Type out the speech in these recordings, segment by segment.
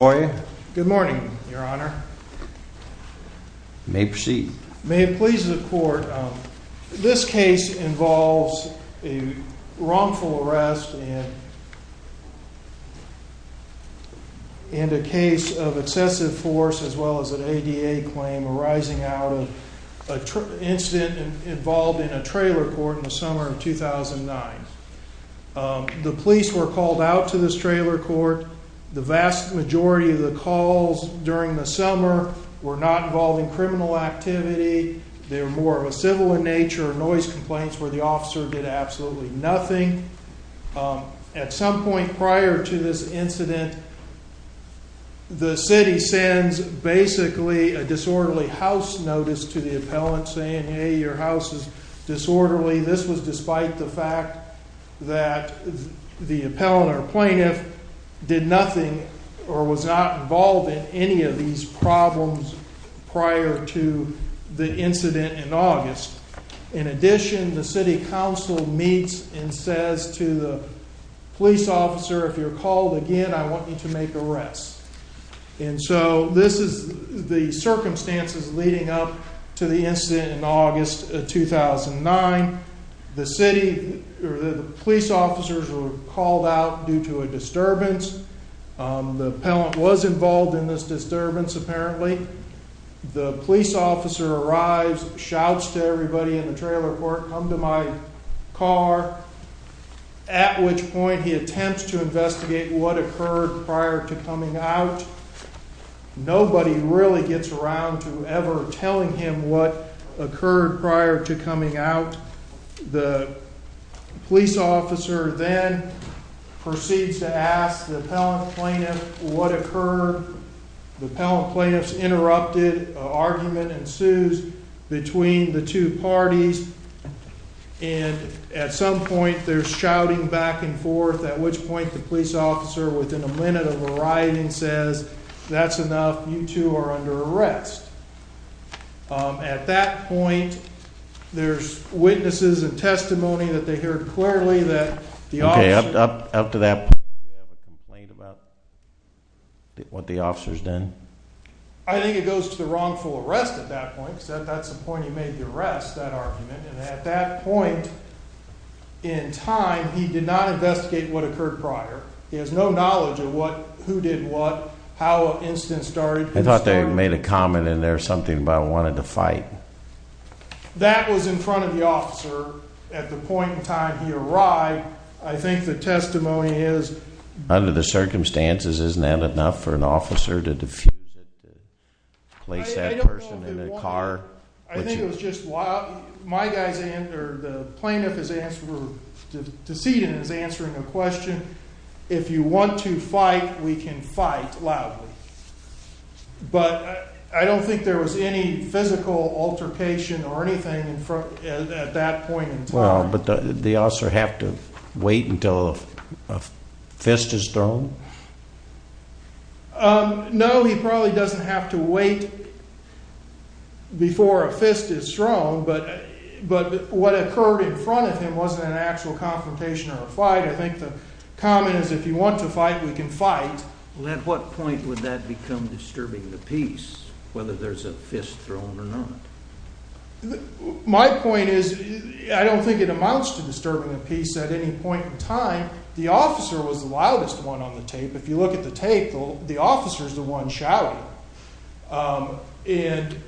Good morning your honor. May it please the court. This case involves a wrongful arrest and a case of excessive force as well as an ADA claim arising out of an incident involved in a trailer court in the summer of 2009. The police were called out to this trailer court. The vast majority of the calls during the summer were not involving criminal activity. They were more of a civil in nature, noise complaints where the officer did absolutely nothing. At some point prior to this incident the city sends basically a disorderly house notice to the appellant saying hey your house is disorderly. This was despite the fact that the appellant or plaintiff did nothing or was not involved in any of these problems prior to the incident in August. In addition the city council meets and says to the police officer if you're called again I want you to make arrests. And so this is the circumstances leading up to the incident in August of 2009. The police officers were called out due to a disturbance. The appellant was involved in this disturbance apparently. The police officer arrives, shouts to everybody in the trailer court come to my car. At which point he attempts to investigate what occurred prior to coming out. Nobody really gets around to ever telling him what occurred prior to coming out. The police officer then proceeds to ask the appellant plaintiff what occurred. The appellant plaintiff's interrupted argument ensues between the two parties and at some point they're shouting back and forth at which point the police officer within a minute of arriving says that's enough you two are under arrest. At that point there's witnesses and testimony that they heard clearly that the officer I think it goes to the wrongful arrest at that point because that's the point he made the arrest, that argument. And at that point in time he did not investigate what occurred prior. He has no knowledge of who did what, how an incident started. I thought they made a comment in there something about wanting to fight. That was in front of the officer at the point in time he arrived. I think the testimony is under the circumstances isn't that enough for an officer to place that person in a car? I think it was just loud. The plaintiff is answering a question. If you want to fight we can fight loudly. But I don't think there was any physical altercation or anything at that point in time. But the officer had to wait until a fist is thrown? No he probably doesn't have to wait before a fist is thrown but what occurred in front of him wasn't an actual confrontation or a fight. I think the comment is if you want to fight we can fight. At what point would that become disturbing the peace whether there's a fist thrown or not? My point is I don't think it amounts to disturbing the peace at any point in time. The officer was the loudest one on the tape. If you look at the tape the officer is the one shouting.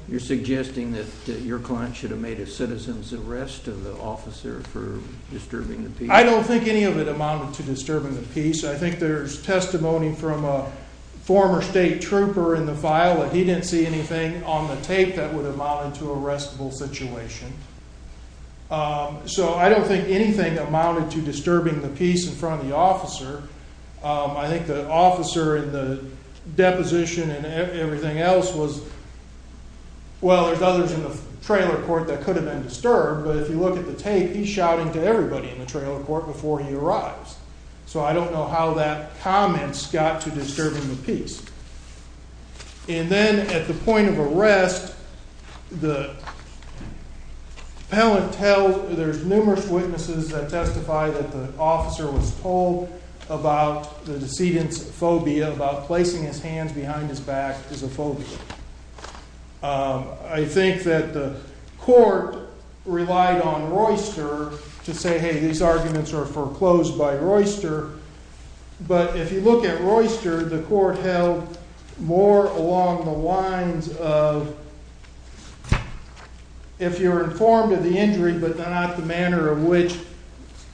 You're suggesting that your client should have made a citizen's arrest of the officer for disturbing the peace? So I don't think anything amounted to disturbing the peace in front of the officer. I think the officer in the deposition and everything else was, well there's others in the trailer court that could have been disturbed but if you look at the tape he's shouting to everybody in the trailer court before he arrives. So I don't know how that comment got to disturbing the peace. And then at the point of arrest the appellant tells, there's numerous witnesses that testify that the officer was told about the decedent's phobia about placing his hands behind his back as a phobia. I think that the court relied on Royster to say hey these arguments are foreclosed by Royster but if you look at Royster the court held more along the lines of if you're informed of the injury but not the manner in which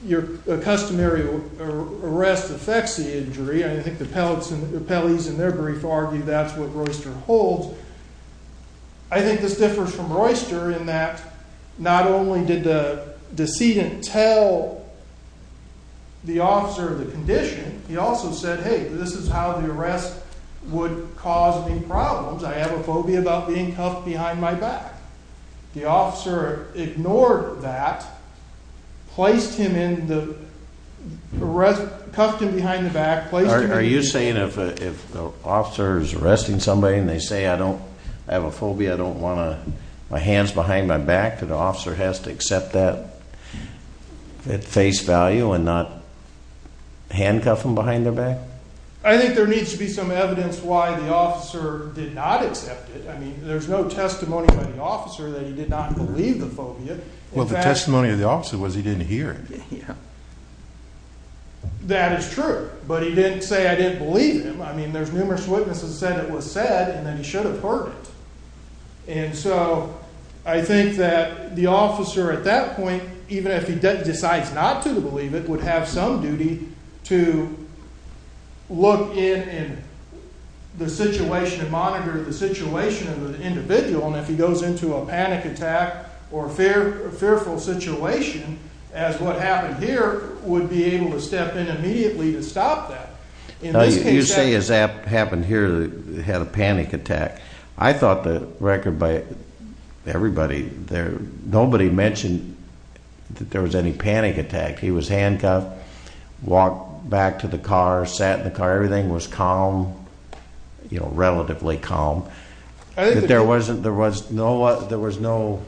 your customary arrest affects the injury. I think the appellees in their brief argued that's what Royster holds. I think this differs from Royster in that not only did the decedent tell the officer the condition he also said hey this is how the arrest would cause me problems. I have a phobia about being cuffed behind my back. The officer ignored that, placed him in the, cuffed him behind the back. Are you saying if the officer is arresting somebody and they say I have a phobia I don't want my hands behind my back that the officer has to accept that at face value and not handcuff him behind their back? I think there needs to be some evidence why the officer did not accept it. I mean there's no testimony by the officer that he did not believe the phobia. Well the testimony of the officer was he didn't hear it. That is true but he didn't say I didn't believe him. I mean there's numerous witnesses that said it was said and then he should have heard it. And so I think that the officer at that point even if he decides not to believe it would have some duty to look in and the situation and monitor the situation of the individual and if he goes into a panic attack or fearful situation as what happened here would be able to step in immediately to stop that. You say as happened here that he had a panic attack. I thought the record by everybody, nobody mentioned that there was any panic attack. He was handcuffed, walked back to the car, sat in the car, everything was calm, relatively calm. There was no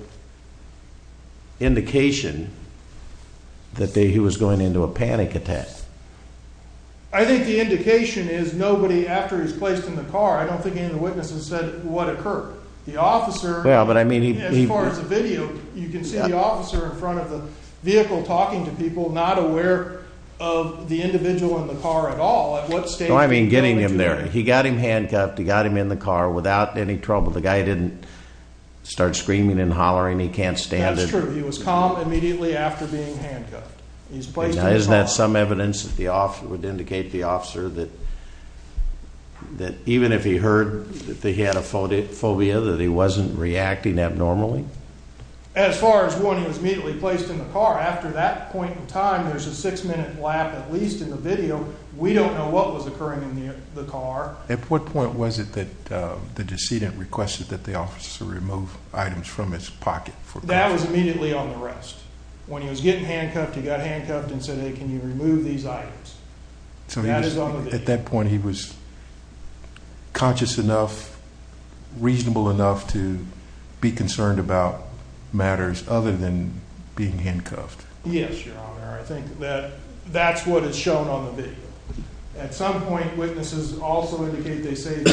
indication that he was going into a panic attack. I think the indication is nobody after he's placed in the car, I don't think any of the witnesses said what occurred. The officer, as far as the video, you can see the officer in front of the vehicle talking to people not aware of the individual in the car at all. I mean getting him there, he got him handcuffed, he got him in the car without any trouble. The guy didn't start screaming and hollering, he can't stand it. That's true, he was calm immediately after being handcuffed. Isn't that some evidence that would indicate the officer that even if he heard that he had a phobia that he wasn't reacting abnormally? As far as when he was immediately placed in the car, after that point in time there's a six minute lap at least in the video. We don't know what was occurring in the car. At what point was it that the decedent requested that the officer remove items from his pocket? That was immediately on the rest. When he was getting handcuffed, he got handcuffed and said, hey, can you remove these items? So at that point he was conscious enough, reasonable enough to be concerned about matters other than being handcuffed? Yes, your honor, I think that's what is shown on the video. At some point witnesses also indicate they say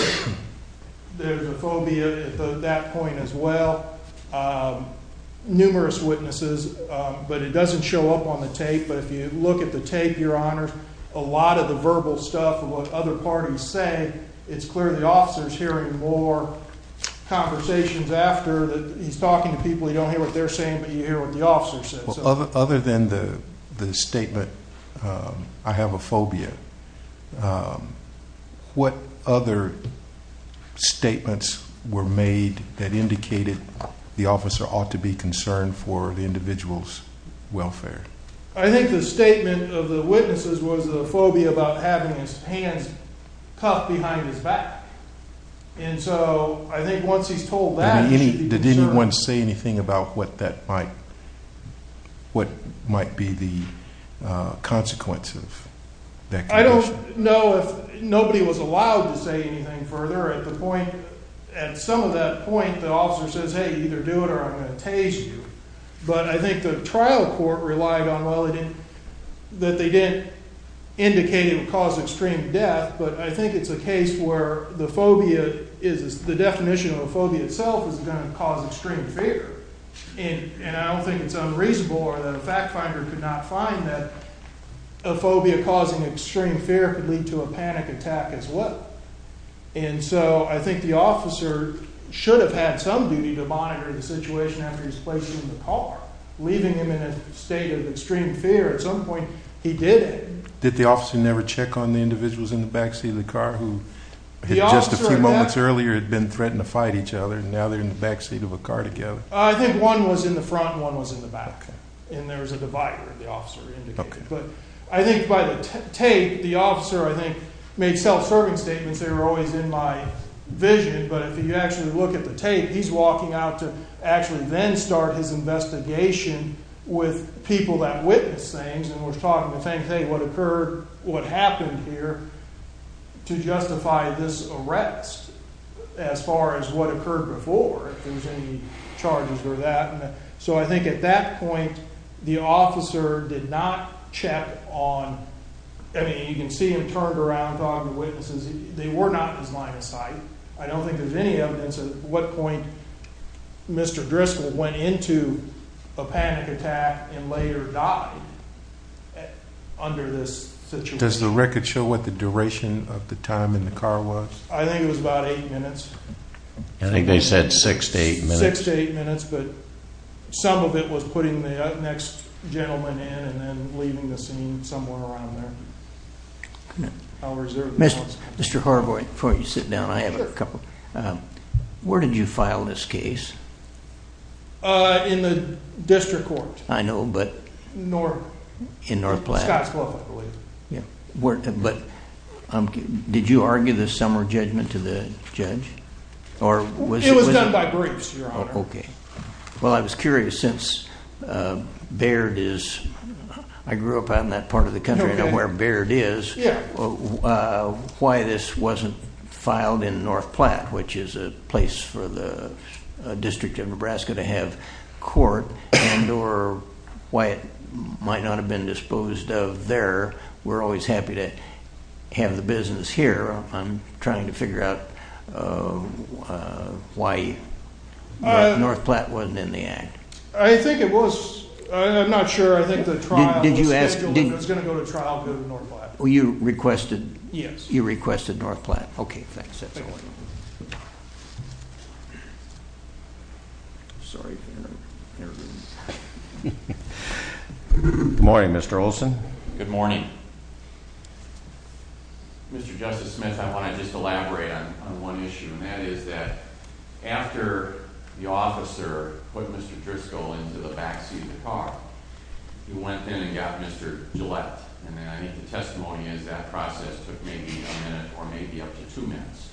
there's a phobia at that point as well. Numerous witnesses, but it doesn't show up on the tape. But if you look at the tape, your honor, a lot of the verbal stuff of what other parties say, it's clear the officer is hearing more conversations after. He's talking to people, you don't hear what they're saying, but you hear what the officer says. Other than the statement, I have a phobia, what other statements were made that indicated the officer ought to be concerned for the individual's welfare? I think the statement of the witnesses was the phobia about having his hands cuffed behind his back. And so I think once he's told that, he should be concerned. Did anyone say anything about what that might, what might be the consequence of that condition? I don't know if, nobody was allowed to say anything further at the point, at some of that point the officer says, hey, either do it or I'm going to tase you. But I think the trial court relied on, well, that they didn't indicate it would cause extreme death. But I think it's a case where the phobia is, the definition of a phobia itself is going to cause extreme fear. And I don't think it's unreasonable or that a fact finder could not find that a phobia causing extreme fear could lead to a panic attack as well. And so I think the officer should have had some duty to monitor the situation after he's placed in the car, leaving him in a state of extreme fear. At some point, he did it. Did the officer never check on the individuals in the back seat of the car who had just a few moments earlier had been threatened to fight each other, and now they're in the back seat of a car together? I think one was in the front and one was in the back. And there was a divider, the officer indicated. But I think by the tape, the officer, I think, made self-serving statements. They were always in my vision. But if you actually look at the tape, he's walking out to actually then start his investigation with people that witnessed things and was talking the same thing, what occurred, what happened here, to justify this arrest as far as what occurred before, if there was any charges for that. So I think at that point, the officer did not check on – I mean, you can see him turned around talking to witnesses. They were not in his line of sight. I don't think there's any evidence at what point Mr. Driscoll went into a panic attack and later died under this situation. Does the record show what the duration of the time in the car was? I think it was about eight minutes. I think they said six to eight minutes. Six to eight minutes, but some of it was putting the next gentleman in and then leaving the scene somewhere around there. I'll reserve those ones. Mr. Horvoy, before you sit down, I have a couple. Where did you file this case? In the district court. I know, but – In North – In North Platte. Scott's Club, I believe. Yeah. But did you argue the summer judgment to the judge? It was done by groups, Your Honor. Okay. Well, I was curious, since Baird is – I grew up out in that part of the country. I know where Baird is. Yeah. Why this wasn't filed in North Platte, which is a place for the District of Nebraska to have court, and or why it might not have been disposed of there. We're always happy to have the business here. I'm trying to figure out why North Platte wasn't in the act. I think it was – I'm not sure. I think the trial was scheduled. Did you ask – It was going to go to trial, go to North Platte. You requested – Yes. You requested North Platte. Okay, thanks. That's all right. Sorry. Good morning, Mr. Olson. Good morning. Mr. Justice Smith, I want to just elaborate on one issue, and that is that after the officer put Mr. Driscoll into the back seat of the car, he went in and got Mr. Gillette. And then I think the testimony is that process took maybe a minute or maybe up to two minutes.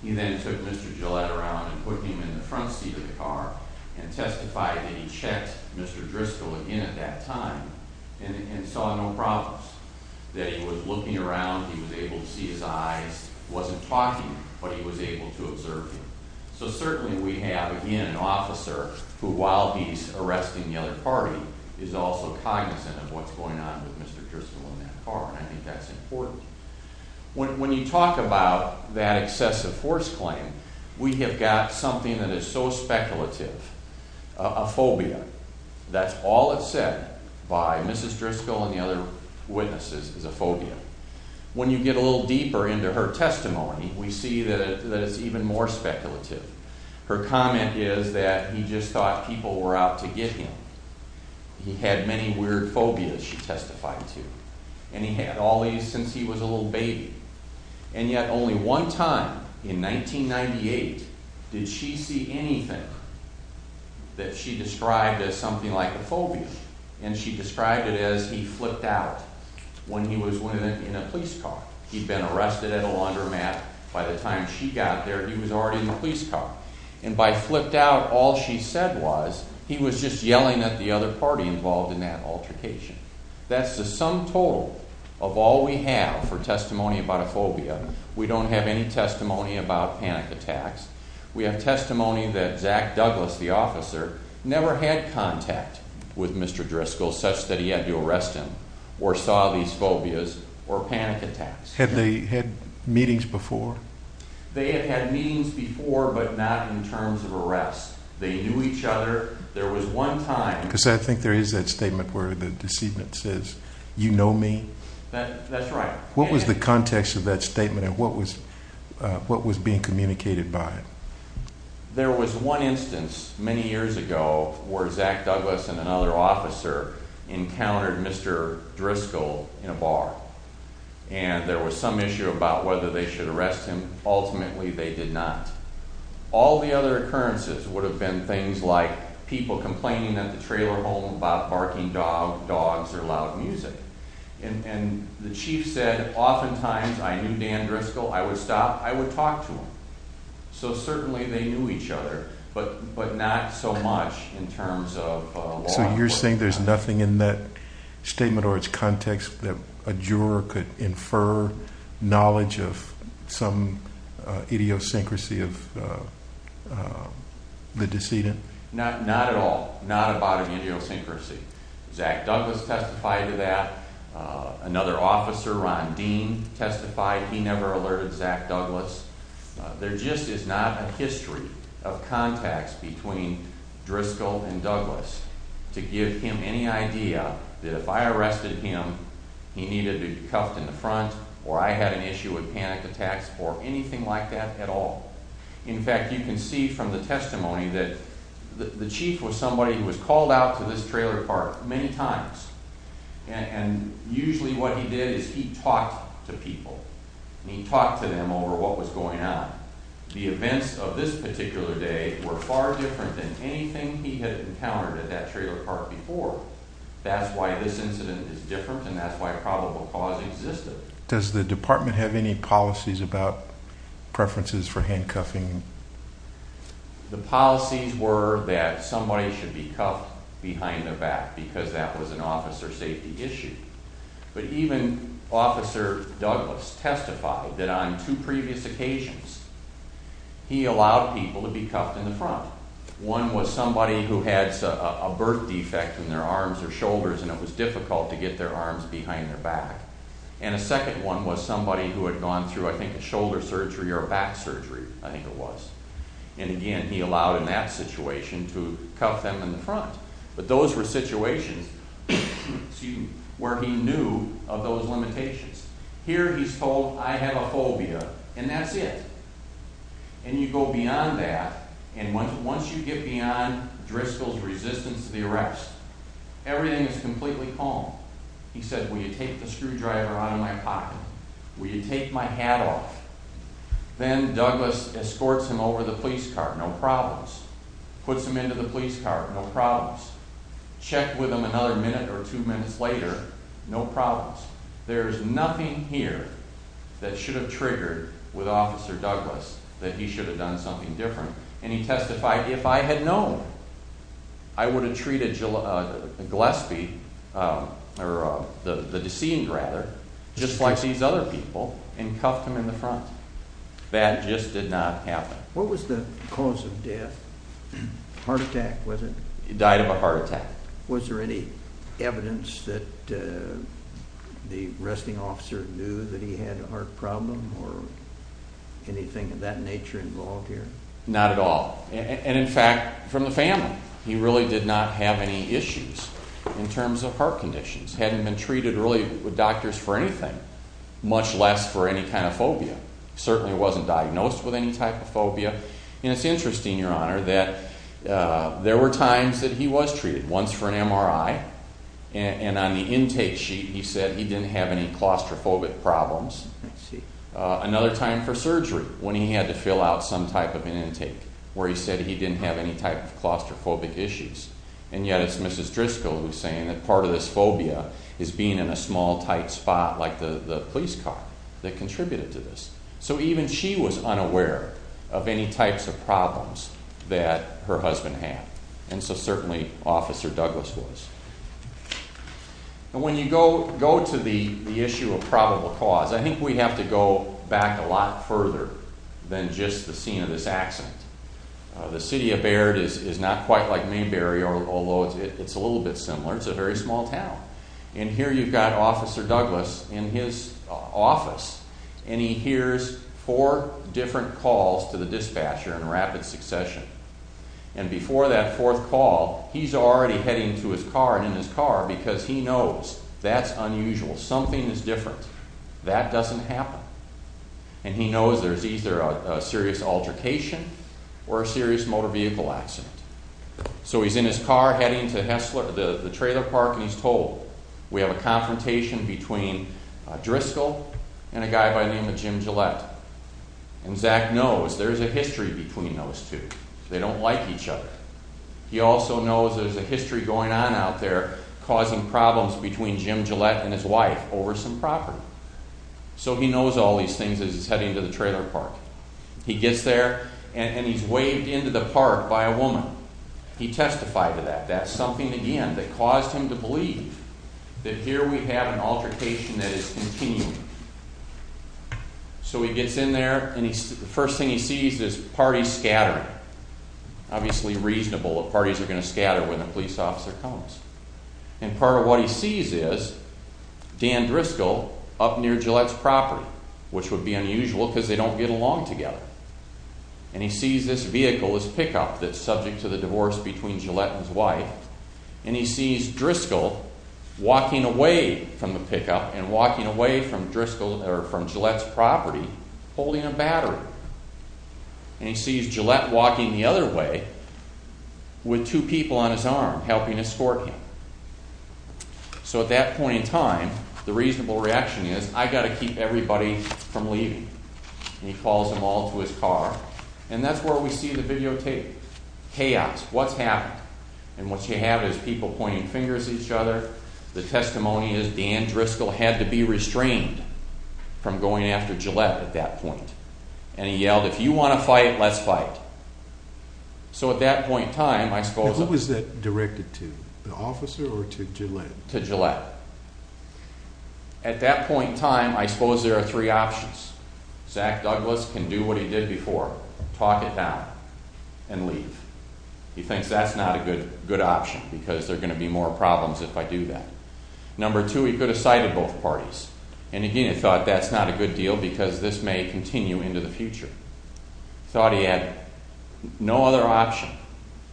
He then took Mr. Gillette around and put him in the front seat of the car and testified that he checked Mr. Driscoll again at that time and saw no problems, that he was looking around, he was able to see his eyes, wasn't talking, but he was able to observe him. So certainly we have again an officer who, while he's arresting the other party, is also cognizant of what's going on with Mr. Driscoll in that car, and I think that's important. When you talk about that excessive force claim, we have got something that is so speculative, a phobia. That's all it said by Mrs. Driscoll and the other witnesses is a phobia. When you get a little deeper into her testimony, we see that it's even more speculative. Her comment is that he just thought people were out to get him. He had many weird phobias, she testified to. And he had all these since he was a little baby. And yet only one time in 1998 did she see anything that she described as something like a phobia. And she described it as he flipped out when he was in a police car. He'd been arrested at a laundromat. By the time she got there, he was already in the police car. And by flipped out, all she said was he was just yelling at the other party involved in that altercation. That's the sum total of all we have for testimony about a phobia. We don't have any testimony about panic attacks. We have testimony that Zach Douglas, the officer, never had contact with Mr. Driscoll such that he had to arrest him or saw these phobias or panic attacks. Had they had meetings before? They had had meetings before, but not in terms of arrests. They knew each other. There was one time... Because I think there is that statement where the decedent says, you know me? That's right. What was the context of that statement and what was being communicated by it? There was one instance many years ago where Zach Douglas and another officer encountered Mr. Driscoll in a bar. And there was some issue about whether they should arrest him. Ultimately, they did not. All the other occurrences would have been things like people complaining at the trailer home about barking dogs or loud music. And the chief said, oftentimes, I knew Dan Driscoll. I would stop. I would talk to him. So certainly they knew each other, but not so much in terms of law enforcement. So you're saying there's nothing in that statement or its context that a juror could infer knowledge of some idiosyncrasy of the decedent? Not at all. Not about an idiosyncrasy. Zach Douglas testified to that. Another officer, Ron Dean, testified. He never alerted Zach Douglas. There just is not a history of contacts between Driscoll and Douglas to give him any idea that if I arrested him, he needed to be cuffed in the front or I had an issue with panic attacks or anything like that at all. In fact, you can see from the testimony that the chief was somebody who was called out to this trailer park many times. And usually what he did is he talked to people. And he talked to them over what was going on. The events of this particular day were far different than anything he had encountered at that trailer park before. That's why this incident is different, and that's why probable cause existed. Does the department have any policies about preferences for handcuffing? The policies were that somebody should be cuffed behind the back because that was an officer safety issue. But even Officer Douglas testified that on two previous occasions he allowed people to be cuffed in the front. One was somebody who had a birth defect in their arms or shoulders and it was difficult to get their arms behind their back. And a second one was somebody who had gone through, I think, a shoulder surgery or a back surgery, I think it was. And again, he allowed in that situation to cuff them in the front. But those were situations where he knew of those limitations. Here he's told, I have a phobia, and that's it. And you go beyond that, and once you get beyond Driscoll's resistance to the arrest, everything is completely calm. He said, will you take the screwdriver out of my pocket? Will you take my hat off? Then Douglas escorts him over the police car, no problems. Puts him into the police car, no problems. Check with him another minute or two minutes later, no problems. There's nothing here that should have triggered with Officer Douglas that he should have done something different. And he testified, if I had known, I would have treated Gillespie, or the deceased rather, just like these other people, and cuffed him in the front. That just did not happen. What was the cause of death? Heart attack, was it? He died of a heart attack. Was there any evidence that the arresting officer knew that he had a heart problem or anything of that nature involved here? Not at all. And in fact, from the family. He really did not have any issues in terms of heart conditions. Hadn't been treated really with doctors for anything, much less for any kind of phobia. Certainly wasn't diagnosed with any type of phobia. And it's interesting, Your Honor, that there were times that he was treated, once for an MRI, and on the intake sheet he said he didn't have any claustrophobic problems. Another time for surgery, when he had to fill out some type of an intake, where he said he didn't have any type of claustrophobic issues. And yet it's Mrs. Driscoll who's saying that part of this phobia is being in a small, tight spot, like the police car that contributed to this. So even she was unaware of any types of problems that her husband had. And so certainly Officer Douglas was. And when you go to the issue of probable cause, I think we have to go back a lot further than just the scene of this accident. The city of Baird is not quite like Mainbury, although it's a little bit similar. It's a very small town. And here you've got Officer Douglas in his office, and he hears four different calls to the dispatcher in rapid succession. And before that fourth call, he's already heading to his car and in his car because he knows that's unusual, something is different. That doesn't happen. And he knows there's either a serious altercation or a serious motor vehicle accident. So he's in his car heading to the trailer park, and he's told, we have a confrontation between Driscoll and a guy by the name of Jim Gillette. And Zach knows there's a history between those two. They don't like each other. He also knows there's a history going on out there causing problems between Jim Gillette and his wife over some property. So he knows all these things as he's heading to the trailer park. He gets there, and he's waved into the park by a woman. He testified to that. That's something, again, that caused him to believe that here we have an altercation that is continuing. So he gets in there, and the first thing he sees is parties scattering. Obviously reasonable that parties are going to scatter when a police officer comes. And part of what he sees is Dan Driscoll up near Gillette's property, which would be unusual because they don't get along together. And he sees this vehicle, this pickup, that's subject to the divorce between Gillette and his wife, and he sees Driscoll walking away from the pickup and walking away from Gillette's property holding a battery. And he sees Gillette walking the other way with two people on his arm helping to escort him. So at that point in time, the reasonable reaction is, I've got to keep everybody from leaving. And he calls them all to his car. And that's where we see the videotape. Chaos. What's happened? And what you have is people pointing fingers at each other. The testimony is Dan Driscoll had to be restrained from going after Gillette at that point. And he yelled, if you want to fight, let's fight. So at that point in time, I suppose... Who was that directed to, the officer or to Gillette? To Gillette. At that point in time, I suppose there are three options. Zach Douglas can do what he did before, talk it down, and leave. He thinks that's not a good option because there are going to be more problems if I do that. Number two, he could have cited both parties. And again, he thought that's not a good deal because this may continue into the future. He thought he had no other option.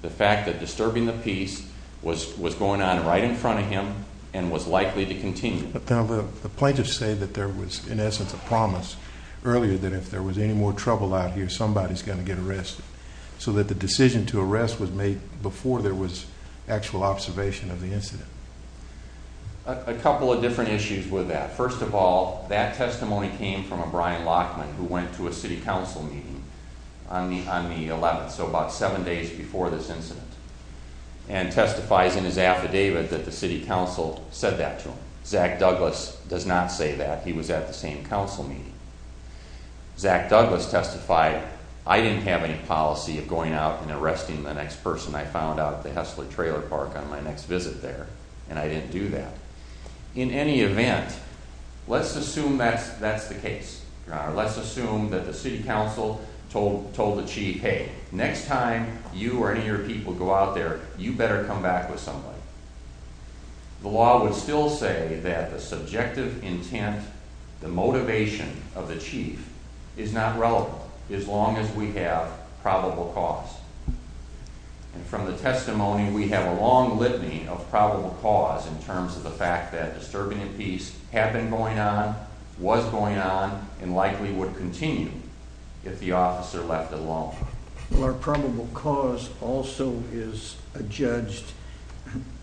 The fact that disturbing the peace was going on right in front of him and was likely to continue. The plaintiffs say that there was, in essence, a promise earlier that if there was any more trouble out here, somebody's going to get arrested, so that the decision to arrest was made before there was actual observation of the incident. A couple of different issues with that. First of all, that testimony came from a Brian Lockman who went to a city council meeting on the 11th, so about seven days before this incident, and testifies in his affidavit that the city council said that to him. Zach Douglas does not say that. He was at the same council meeting. Zach Douglas testified, I didn't have any policy of going out and arresting the next person I found out at the Hessler trailer park on my next visit there, and I didn't do that. In any event, let's assume that's the case. Let's assume that the city council told the chief, hey, next time you or any of your people go out there, you better come back with somebody. The law would still say that the subjective intent, the motivation of the chief, is not relevant as long as we have probable cause. And from the testimony, we have a long litany of probable cause in terms of the fact that disturbing in peace had been going on, was going on, and likely would continue if the officer left alone. Well, our probable cause also is judged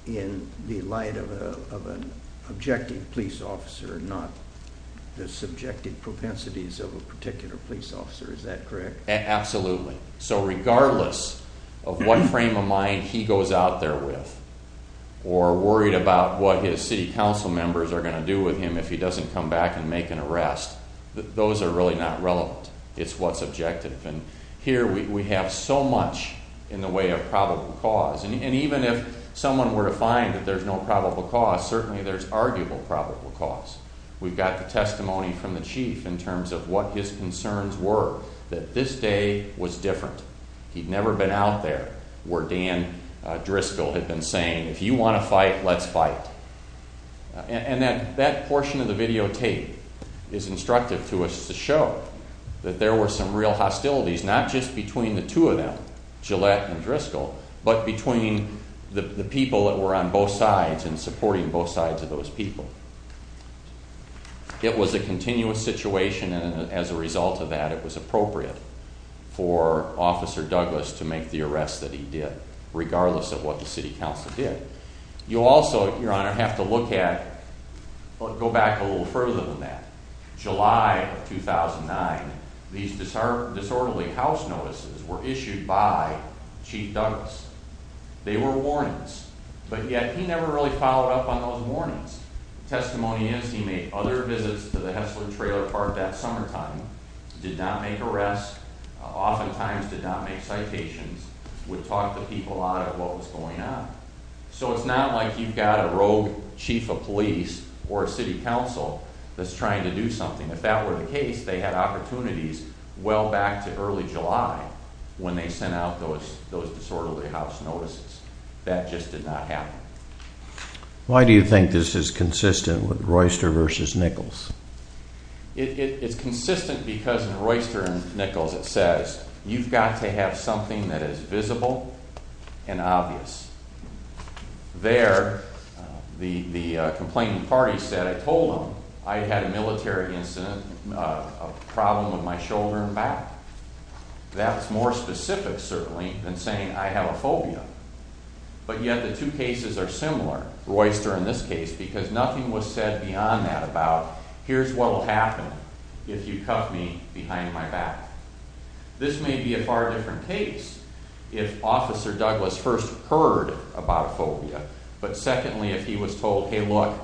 in the light of an objective police officer, not the subjective propensities of a particular police officer. Is that correct? Absolutely. So regardless of what frame of mind he goes out there with or worried about what his city council members are going to do with him if he doesn't come back and make an arrest, those are really not relevant. It's what's objective. And here we have so much in the way of probable cause. And even if someone were to find that there's no probable cause, certainly there's arguable probable cause. We've got the testimony from the chief in terms of what his concerns were, that this day was different. He'd never been out there where Dan Driscoll had been saying, if you want to fight, let's fight. And that portion of the videotape is instructive to us to show that there were some real hostilities, not just between the two of them, Gillette and Driscoll, but between the people that were on both sides and supporting both sides of those people. It was a continuous situation, and as a result of that it was appropriate for Officer Douglas to make the arrest that he did, regardless of what the city council did. You also, Your Honor, have to look at, go back a little further than that. July of 2009, these disorderly house notices were issued by Chief Douglas. They were warnings, but yet he never really followed up on those warnings. Testimony is he made other visits to the Hessler trailer park that summertime, did not make arrests, oftentimes did not make citations, would talk the people out of what was going on. So it's not like you've got a rogue chief of police or a city council that's trying to do something. If that were the case, they had opportunities well back to early July when they sent out those disorderly house notices. That just did not happen. Why do you think this is consistent with Royster v. Nichols? It's consistent because in Royster v. Nichols it says, you've got to have something that is visible and obvious. There, the complaining party said, I told them I had a military incident, a problem with my shoulder and back. That's more specific, certainly, than saying I have a phobia. But yet the two cases are similar, Royster in this case, because nothing was said beyond that about, here's what will happen if you cuff me behind my back. This may be a far different case if Officer Douglas first heard about a phobia, but secondly if he was told, hey look,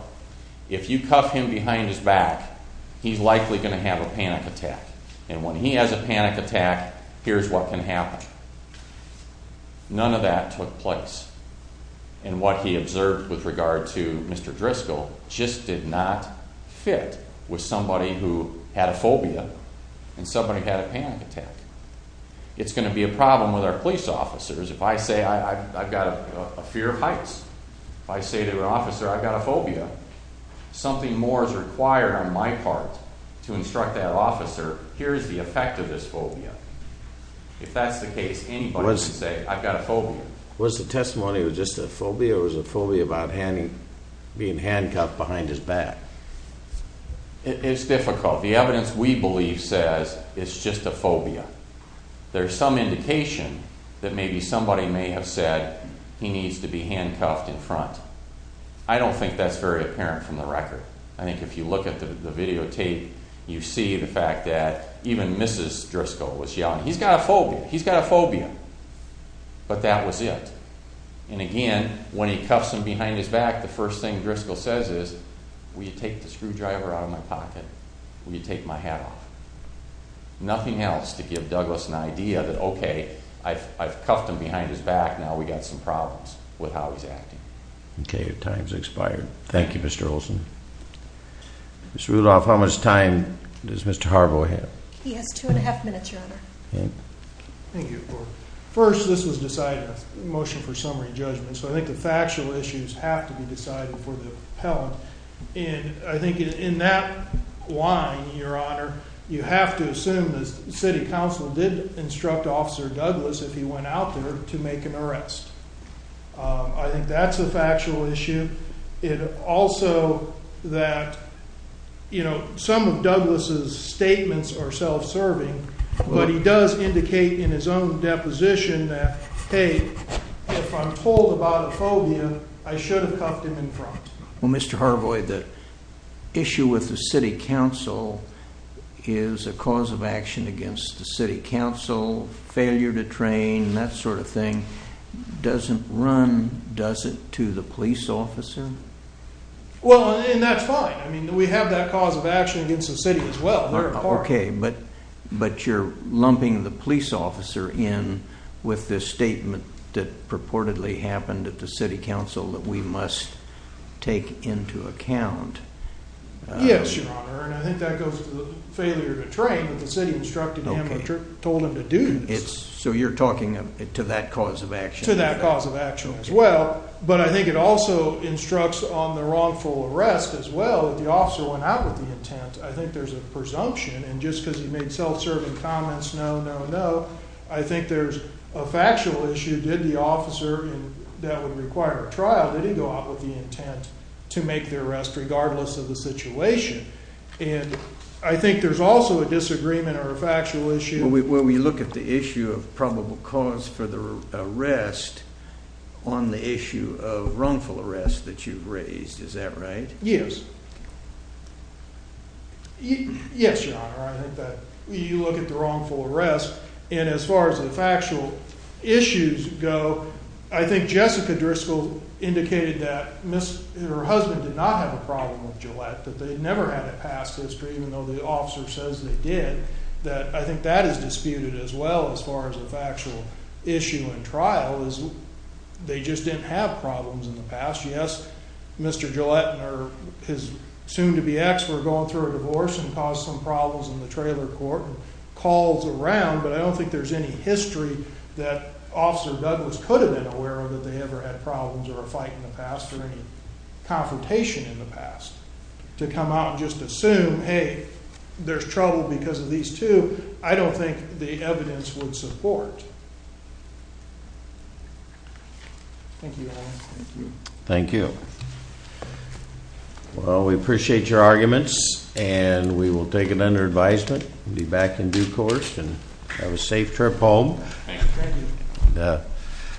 if you cuff him behind his back, he's likely going to have a panic attack. And when he has a panic attack, here's what can happen. None of that took place. And what he observed with regard to Mr. Driscoll just did not fit with somebody who had a phobia and somebody who had a panic attack. It's going to be a problem with our police officers. If I say I've got a fear of heights, if I say to an officer I've got a phobia, something more is required on my part to instruct that officer, here's the effect of this phobia. If that's the case, anybody can say I've got a phobia. Was the testimony just a phobia, or was it a phobia about being handcuffed behind his back? It's difficult. The evidence we believe says it's just a phobia. There's some indication that maybe somebody may have said he needs to be handcuffed in front. I don't think that's very apparent from the record. I think if you look at the videotape, you see the fact that even Mrs. Driscoll was yelling, he's got a phobia, he's got a phobia. But that was it. And again, when he cuffs him behind his back, the first thing Driscoll says is, will you take the screwdriver out of my pocket? Will you take my hat off? Nothing else to give Douglas an idea that, okay, I've cuffed him behind his back, now we've got some problems with how he's acting. Okay, your time's expired. Thank you, Mr. Olson. Ms. Rudolph, how much time does Mr. Harbaugh have? He has 2 1⁄2 minutes, Your Honor. Okay. Thank you. First, this was decided as a motion for summary judgment, so I think the factual issues have to be decided for the appellant. And I think in that line, Your Honor, you have to assume the city council did instruct Officer Douglas, if he went out there, to make an arrest. I think that's a factual issue. Also that, you know, some of Douglas' statements are self-serving, but he does indicate in his own deposition that, hey, if I'm told about a phobia, I should have cuffed him in front. Well, Mr. Harbaugh, the issue with the city council is a cause of action against the city council, failure to train, that sort of thing, doesn't run, does it, to the police officer? Well, and that's fine. I mean, we have that cause of action against the city as well. Okay, but you're lumping the police officer in with this statement that purportedly happened at the city council that we must take into account. Yes, Your Honor, and I think that goes to the failure to train that the city instructed him or told him to do. So you're talking to that cause of action? To that cause of action as well, but I think it also instructs on the wrongful arrest as well. If the officer went out with the intent, I think there's a presumption, and just because he made self-serving comments, no, no, no, I think there's a factual issue. Did the officer, and that would require a trial, did he go out with the intent to make the arrest, regardless of the situation? And I think there's also a disagreement or a factual issue. Well, we look at the issue of probable cause for the arrest on the issue of wrongful arrest that you've raised. Is that right? Yes. Yes, Your Honor, I think that you look at the wrongful arrest, and as far as the factual issues go, I think Jessica Driscoll indicated that her husband did not have a problem with Gillette, that they'd never had it passed history, even though the officer says they did. I think that is disputed as well as far as the factual issue in trial is they just didn't have problems in the past. Yes, Mr. Gillette and his soon-to-be ex were going through a divorce and caused some problems in the trailer court, and calls around, but I don't think there's any history that Officer Douglas could have been aware of that they ever had problems or a fight in the past or any confrontation in the past to come out and just assume, hey, there's trouble because of these two. I don't think the evidence would support. Thank you, Your Honor. Thank you. Well, we appreciate your arguments and we will take it under advisement and be back in due course and have a safe trip home. Thank you.